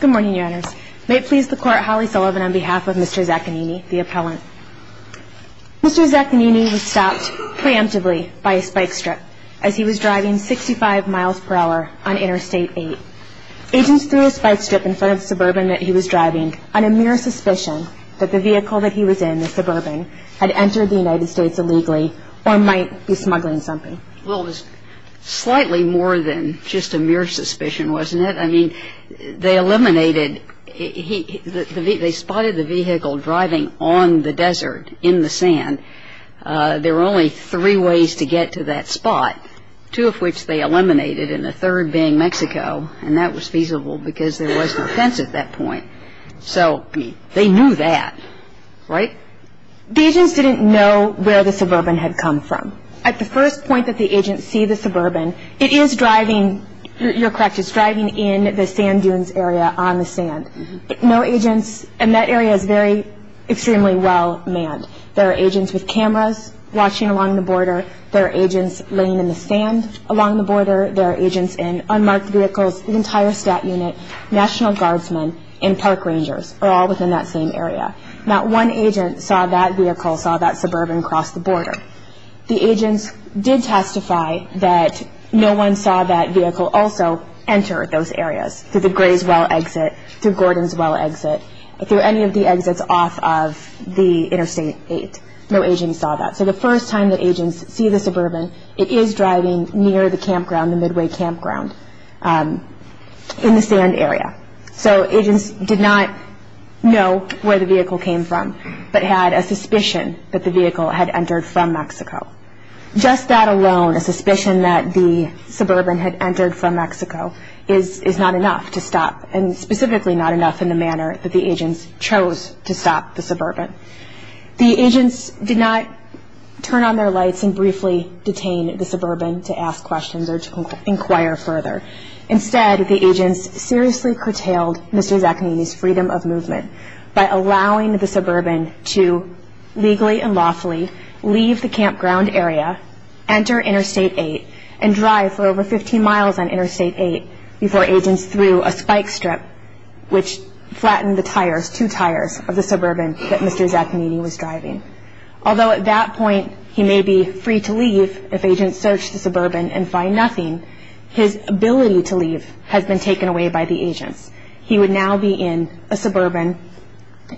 Good morning, your honors. May it please the court, Holly Sullivan on behalf of Mr. Zaccagnini, the appellant. Mr. Zaccagnini was stopped preemptively by a spike strip as he was driving 65 miles per hour on Interstate 8. Agents threw a spike strip in front of the Suburban that he was driving on a mere suspicion that the vehicle that he was in, the Suburban, had entered the United States illegally or might be smuggling something. Well, it was slightly more than just a mere suspicion, wasn't it? I mean, they eliminated, they spotted the vehicle driving on the desert in the sand. There were only three ways to get to that spot, two of which they eliminated and the third being Mexico, and that was feasible because there was no fence at that point. So they knew that, right? The agents didn't know where the Suburban had come from. At the first point that the agents see the Suburban, it is driving, you're correct, it's driving in the sand dunes area on the sand. No agents, and that area is very, extremely well manned. There are agents with cameras watching along the border. There are agents laying in the sand along the border. There are agents in unmarked vehicles, the entire stat unit, national guardsmen, and park rangers are all within that same area. Not one agent saw that vehicle, saw that Suburban cross the border. The agents did testify that no one saw that vehicle also enter those areas through the Grayswell exit, through Gordon's Well exit, through any of the exits off of the Interstate 8. No agents saw that. So the first time that agents see the Suburban, it is driving near the campground, the Midway campground, in the sand area. So agents did not know where the vehicle came from, but had a suspicion that the vehicle had entered from Mexico. Just that alone, a suspicion that the Suburban had entered from Mexico is not enough to stop, and specifically not enough in the manner that the agents chose to stop the Suburban. The agents did not turn on their lights and briefly detain the Suburban to ask questions or to inquire further. Instead, the agents seriously curtailed Mr. Zaccanini's freedom of movement by allowing the Suburban to legally and lawfully leave the campground area, enter Interstate 8, and drive for over 15 miles on Interstate 8 before agents threw a spike strip which flattened the tires, two tires, of the Suburban that Mr. Zaccanini was driving. Although at that point he may be free to leave if agents search the Suburban and find nothing, his ability to leave has been taken away by the agents. He would now be in a Suburban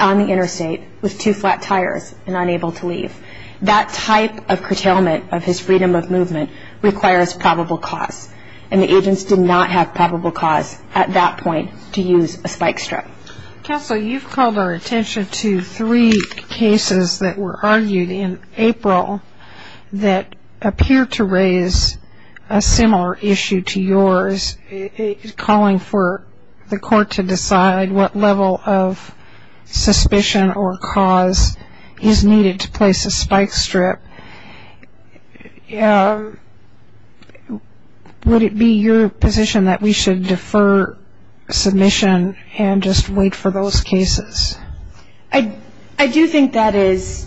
on the interstate with two flat tires and unable to leave. That type of curtailment of his freedom of movement requires probable cause, and the agents did not have probable cause at that point to use a spike strip. Counsel, you've called our attention to three cases that were argued in April that appear to raise a similar issue to yours, calling for the court to decide what level of suspicion or cause is needed to place a spike strip. Would it be your position that we should defer submission and just wait for those cases? I do think that is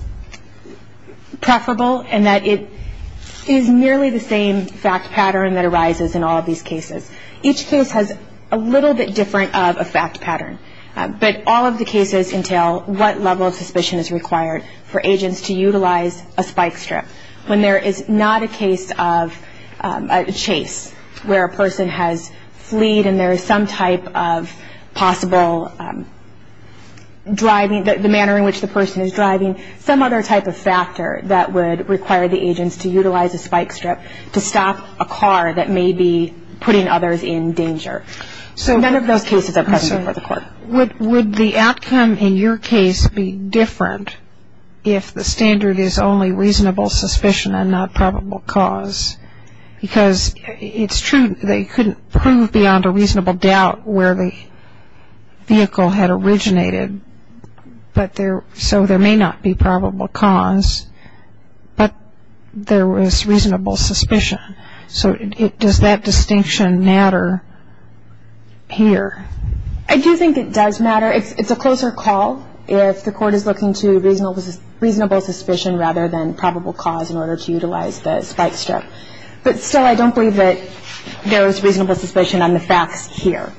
preferable and that it is nearly the same fact pattern that arises in all of these cases. Each case has a little bit different of a fact pattern, but all of the cases entail what level of suspicion is required for agents to utilize a spike strip. When there is not a case of a chase where a person has fleed and there is some type of possible driving, the manner in which the person is driving, some other type of factor that would require the agents to utilize a spike strip to stop a car that may be putting others in danger. So none of those cases are present before the court. Would the outcome in your case be different if the standard is only reasonable suspicion and not probable cause? Because it's true they couldn't prove beyond a reasonable doubt where the vehicle had originated, so there may not be probable cause, but there was reasonable suspicion. So does that distinction matter here? I do think it does matter. It's a closer call if the court is looking to reasonable suspicion rather than probable cause in order to utilize the spike strip. But still, I don't believe that there is reasonable suspicion on the facts here.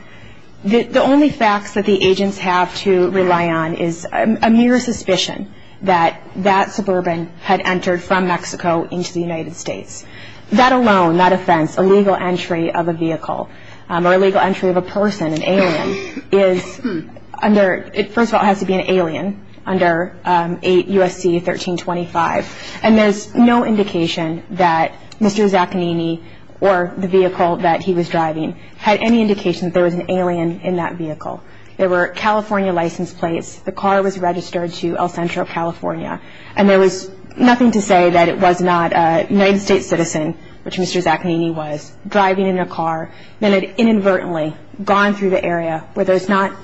The only facts that the agents have to rely on is a mere suspicion that that suburban had entered from Mexico into the United States. That alone, that offense, illegal entry of a vehicle or illegal entry of a person, an alien, first of all, it has to be an alien under 8 U.S.C. 1325, and there's no indication that Mr. Zaconini or the vehicle that he was driving had any indication that there was an alien in that vehicle. There were California license plates. The car was registered to El Centro, California, and there was nothing to say that it was not a United States citizen, which Mr. Zaconini was, driving in a car, than had inadvertently gone through the area where there's not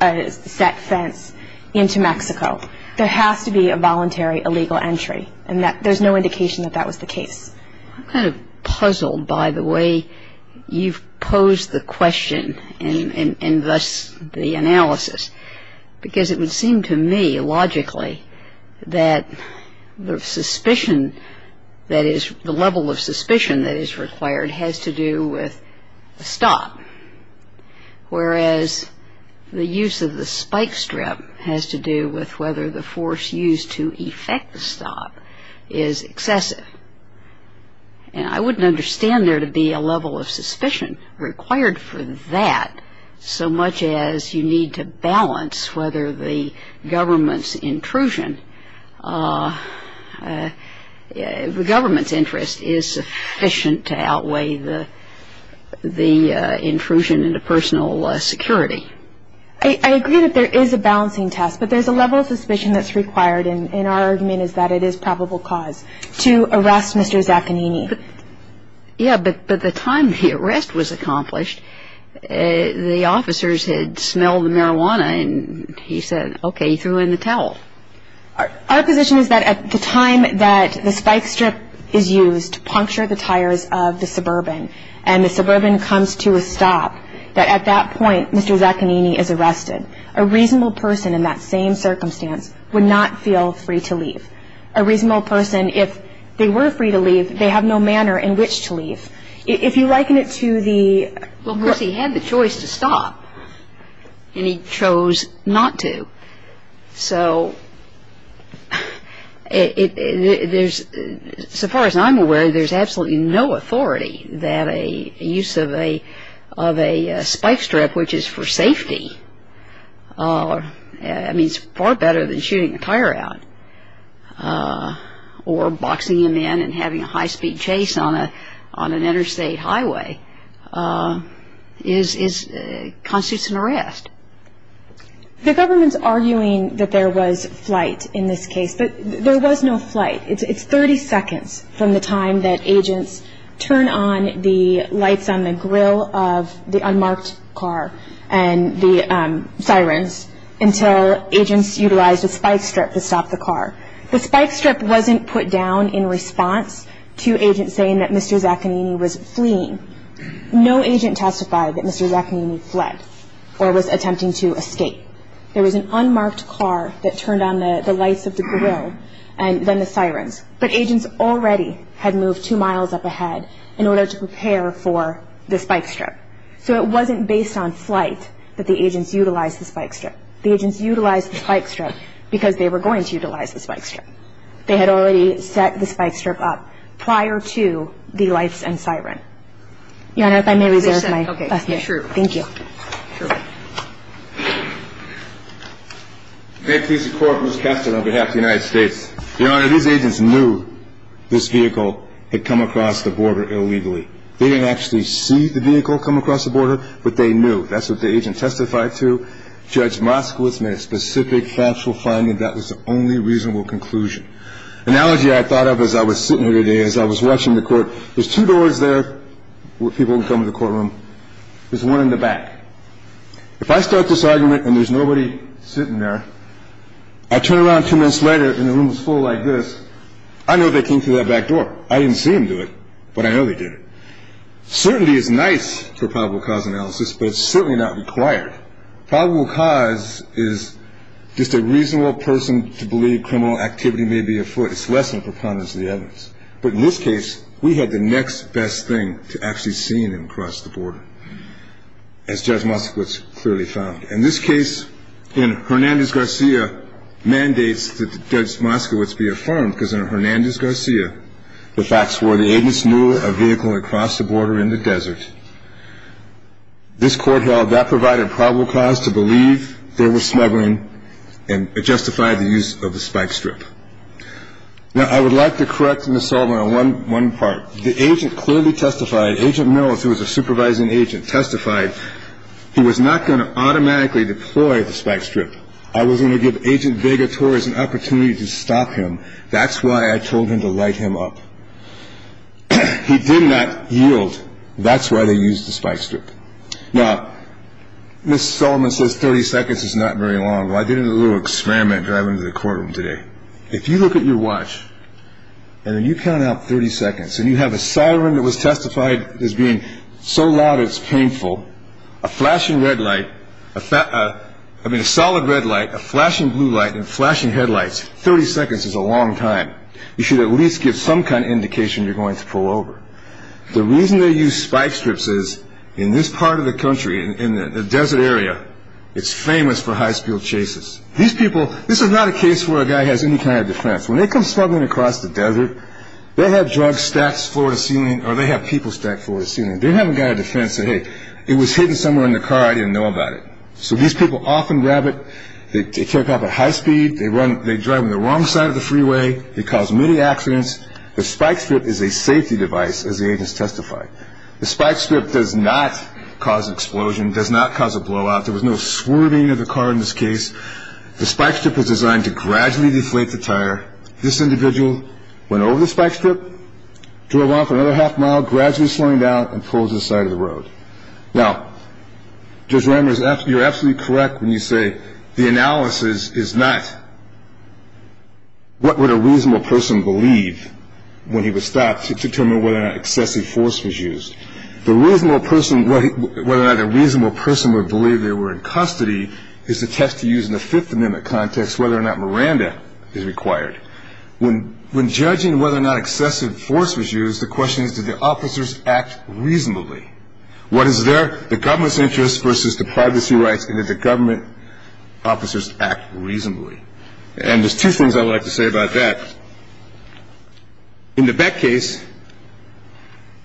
a set fence into Mexico. There has to be a voluntary illegal entry, and there's no indication that that was the case. I'm kind of puzzled by the way you've posed the question, and thus the analysis, because it would seem to me, logically, that the level of suspicion that is required has to do with the stop, whereas the use of the spike strip has to do with whether the force used to effect the stop is excessive. And I wouldn't understand there to be a level of suspicion required for that so much as you need to balance whether the government's intrusion, the government's interest is sufficient to outweigh the intrusion into personal security. I agree that there is a balancing test, but there's a level of suspicion that's required, and our argument is that it is probable cause to arrest Mr. Zaconini. Yeah, but the time the arrest was accomplished, the officers had smelled the marijuana, and he said, okay, he threw in the towel. Our position is that at the time that the spike strip is used to puncture the tires of the suburban and the suburban comes to a stop, that at that point, Mr. Zaconini is arrested. A reasonable person in that same circumstance would not feel free to leave. A reasonable person, if they were free to leave, they have no manner in which to leave. If you liken it to the- Well, of course he had the choice to stop, and he chose not to. So as far as I'm aware, there's absolutely no authority that a use of a spike strip, which is for safety, I mean it's far better than shooting a tire out or boxing him in and having a high-speed chase on an interstate highway constitutes an arrest. The government's arguing that there was flight in this case, but there was no flight. It's 30 seconds from the time that agents turn on the lights on the grill of the unmarked car and the sirens until agents utilized a spike strip to stop the car. The spike strip wasn't put down in response to agents saying that Mr. Zaconini was fleeing. No agent testified that Mr. Zaconini fled or was attempting to escape. There was an unmarked car that turned on the lights of the grill and then the sirens, but agents already had moved two miles up ahead in order to prepare for the spike strip. So it wasn't based on flight that the agents utilized the spike strip. The agents utilized the spike strip because they were going to utilize the spike strip. They had already set the spike strip up prior to the lights and siren. Your Honor, if I may reserve my last minute. Okay, sure. Thank you. Sure. May it please the Court, Ms. Kessler on behalf of the United States. Your Honor, these agents knew this vehicle had come across the border illegally. They didn't actually see the vehicle come across the border, but they knew. That's what the agent testified to. Judge Moskowitz made a specific factual finding. That was the only reasonable conclusion. An analogy I thought of as I was sitting here today, as I was watching the court, there's two doors there where people come to the courtroom. There's one in the back. If I start this argument and there's nobody sitting there, I turn around two minutes later and the room is full like this, I know they came through that back door. I didn't see them do it, but I know they did it. Certainty is nice for probable cause analysis, but it's certainly not required. Probable cause is just a reasonable person to believe criminal activity may be afoot. It's less than preponderance of the evidence. But in this case, we had the next best thing to actually seeing him cross the border, as Judge Moskowitz clearly found. And this case in Hernandez-Garcia mandates that Judge Moskowitz be affirmed that he was not a criminal offender. The facts were the agent knew of a vehicle that crossed the border in the desert. This court held that provided a probable cause to believe there was smuggling and it justified the use of the spike strip. Now, I would like to correct Ms. Sullivan on one part. The agent clearly testified, Agent Mills, who was a supervising agent, testified he was not going to automatically deploy the spike strip. I was going to give Agent Vega Torres an opportunity to stop him. That's why I told him to light him up. He did not yield. That's why they used the spike strip. Now, Ms. Sullivan says 30 seconds is not very long. Well, I did a little experiment driving to the courtroom today. If you look at your watch and then you count out 30 seconds and you have a siren that was testified as being so loud it's painful, a flashing red light, I mean a solid red light, a flashing blue light and flashing headlights, 30 seconds is a long time. You should at least give some kind of indication you're going to pull over. The reason they use spike strips is in this part of the country, in the desert area, it's famous for high-speed chases. These people, this is not a case where a guy has any kind of defense. When they come smuggling across the desert, they have drugs stacked floor to ceiling or they have people stacked floor to ceiling. They don't have a guy on defense saying, hey, it was hidden somewhere in the car. I didn't know about it. So these people often grab it. They take off at high speed. They drive on the wrong side of the freeway. They cause many accidents. The spike strip is a safety device, as the agents testified. The spike strip does not cause an explosion, does not cause a blowout. There was no swerving of the car in this case. The spike strip was designed to gradually deflate the tire. This individual went over the spike strip, drove off another half mile, gradually slowing down and pulls to the side of the road. Now, Judge Ramirez, you're absolutely correct when you say the analysis is not what would a reasonable person believe when he was stopped to determine whether or not excessive force was used. The reasonable person, whether or not a reasonable person would believe they were in custody is the test to use in the Fifth Amendment context whether or not Miranda is required. When judging whether or not excessive force was used, the question is did the officers act reasonably? Was it the government's interest versus the privacy rights, and did the government officers act reasonably? And there's two things I'd like to say about that. In the Beck case,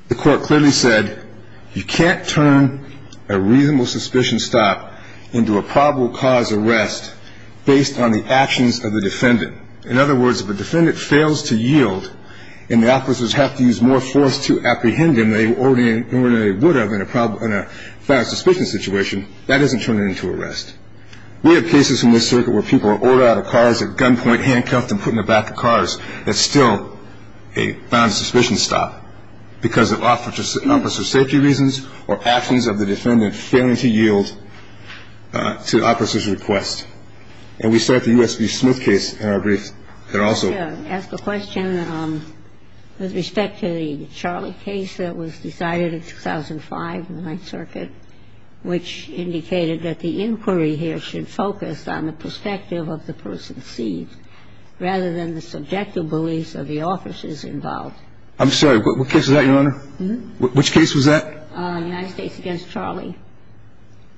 the court clearly said you can't turn a reasonable suspicion stop into a probable cause arrest based on the actions of the defendant. In other words, if a defendant fails to yield and the officers have to use more force to apprehend them than they would have in a final suspicion situation, that doesn't turn it into arrest. We have cases in this circuit where people are ordered out of cars, at gunpoint, handcuffed, and put in the back of cars. That's still a final suspicion stop because of officer safety reasons or actions of the defendant failing to yield to the officer's request. And we saw at the U.S. v. Smith case in our brief that also ---- I should ask a question with respect to the Charlie case that was decided in 2005 in the Ninth Circuit, which indicated that the inquiry here should focus on the perspective of the person seen rather than the subjective beliefs of the officers involved. I'm sorry. What case was that, Your Honor? Which case was that? United States v. Charlie.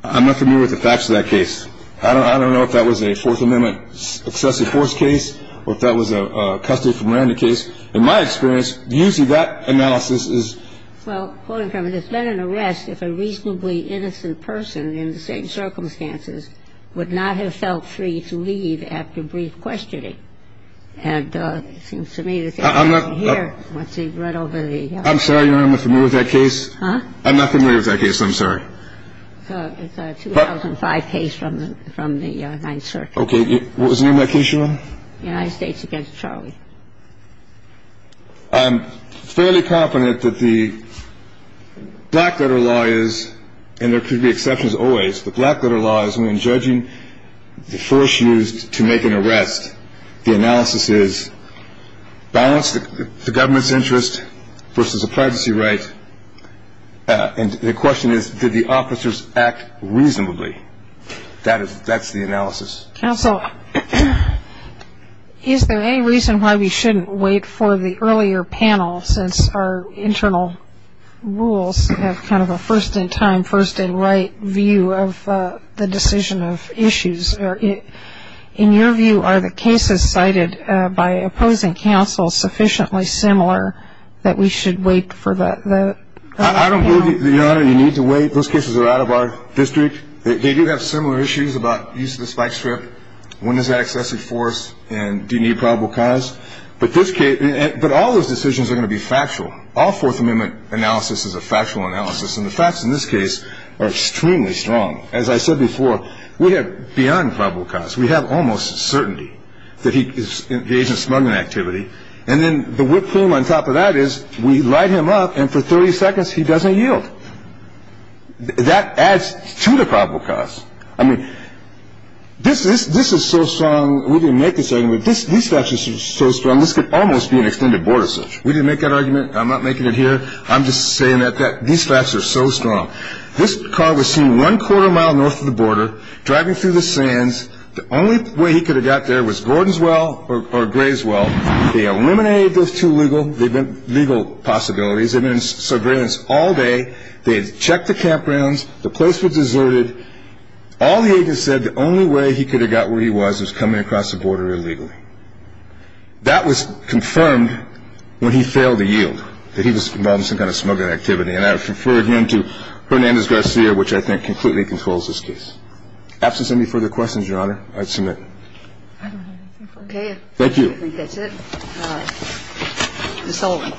I'm not familiar with the facts of that case. I don't know if that was a Fourth Amendment excessive force case or if that was a custody for Miranda case. In my experience, usually that analysis is ---- Well, Quoting from it, it's been an arrest if a reasonably innocent person in the same circumstances would not have felt free to leave after brief questioning. And it seems to me that ---- I'm not ---- Here, let's see, right over the ---- I'm sorry, Your Honor, I'm not familiar with that case. Huh? I'm not familiar with that case. I'm sorry. It's a 2005 case from the Ninth Circuit. Okay. What was the name of that case, Your Honor? United States v. Charlie. I'm fairly confident that the black letter law is, and there could be exceptions always, the black letter law is when judging the force used to make an arrest, the analysis is balance the government's interest versus a privacy right. And the question is, did the officers act reasonably? That's the analysis. Counsel, is there any reason why we shouldn't wait for the earlier panel, since our internal rules have kind of a first-in-time, first-in-right view of the decision of issues? In your view, are the cases cited by opposing counsel sufficiently similar that we should wait for that? I don't believe, Your Honor, you need to wait. Those cases are out of our district. They do have similar issues about use of the spike strip, when is that excessively forced, and do you need probable cause? But this case ---- but all those decisions are going to be factual. All Fourth Amendment analysis is a factual analysis, and the facts in this case are extremely strong. As I said before, we have beyond probable cause. We have almost certainty that he is engaged in smuggling activity. And then the whip cream on top of that is we light him up, and for 30 seconds he doesn't yield. That adds to the probable cause. I mean, this is so strong. We didn't make this argument. These facts are so strong, this could almost be an extended border search. We didn't make that argument. I'm not making it here. I'm just saying that these facts are so strong. This car was seen one-quarter mile north of the border, driving through the sands. The only way he could have got there was Gordon's Well or Gray's Well. They eliminated those two legal possibilities. They've been in surveillance all day. They had checked the campgrounds. The place was deserted. All the agents said the only way he could have got where he was was coming across the border illegally. That was confirmed when he failed to yield, that he was involved in some kind of smuggling activity. And I refer again to Hernandez-Garcia, which I think completely controls this case. Absence of any further questions, Your Honor, I submit. Okay. Thank you. I think that's it. Ms. Sullivan.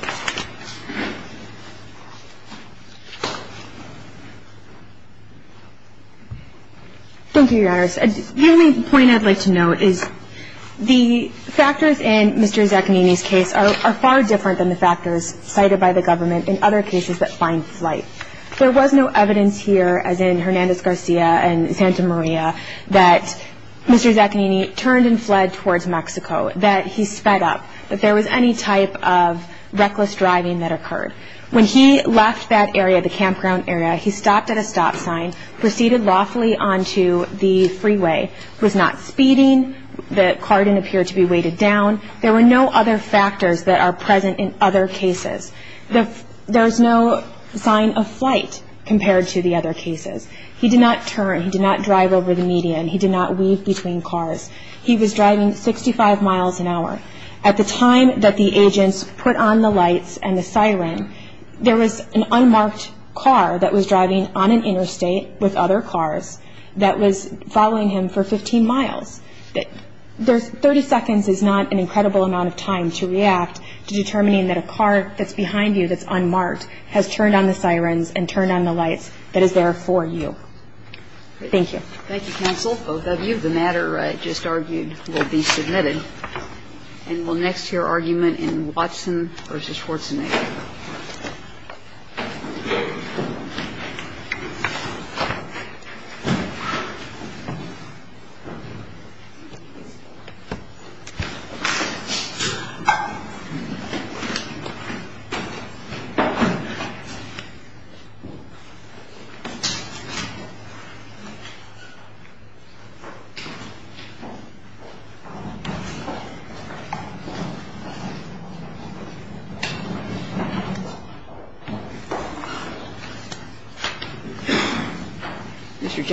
Thank you, Your Honor. The only point I'd like to note is the factors in Mr. Zaconini's case are far different than the factors cited by the government in other cases that find flight. There was no evidence here, as in Hernandez-Garcia and Santa Maria, that Mr. Zaconini turned and fled towards Mexico, that he sped up, that there was any type of reckless driving that occurred. When he left that area, the campground area, he stopped at a stop sign, proceeded lawfully onto the freeway, was not speeding, the car didn't appear to be weighted down. There were no other factors that are present in other cases. There is no sign of flight compared to the other cases. He did not turn, he did not drive over the median, he did not weave between cars. He was driving 65 miles an hour. At the time that the agents put on the lights and the siren, there was an unmarked car that was driving on an interstate with other cars that was following him for 15 miles. Thirty seconds is not an incredible amount of time to react to determining that a car that's behind you that's unmarked has turned on the sirens and turned on the lights that is there for you. Thank you. Thank you, counsel, both of you. The matter I just argued will be submitted. And we'll next hear argument in Watson v. Schwartzenegger. Thank you. Mr. Jacobson.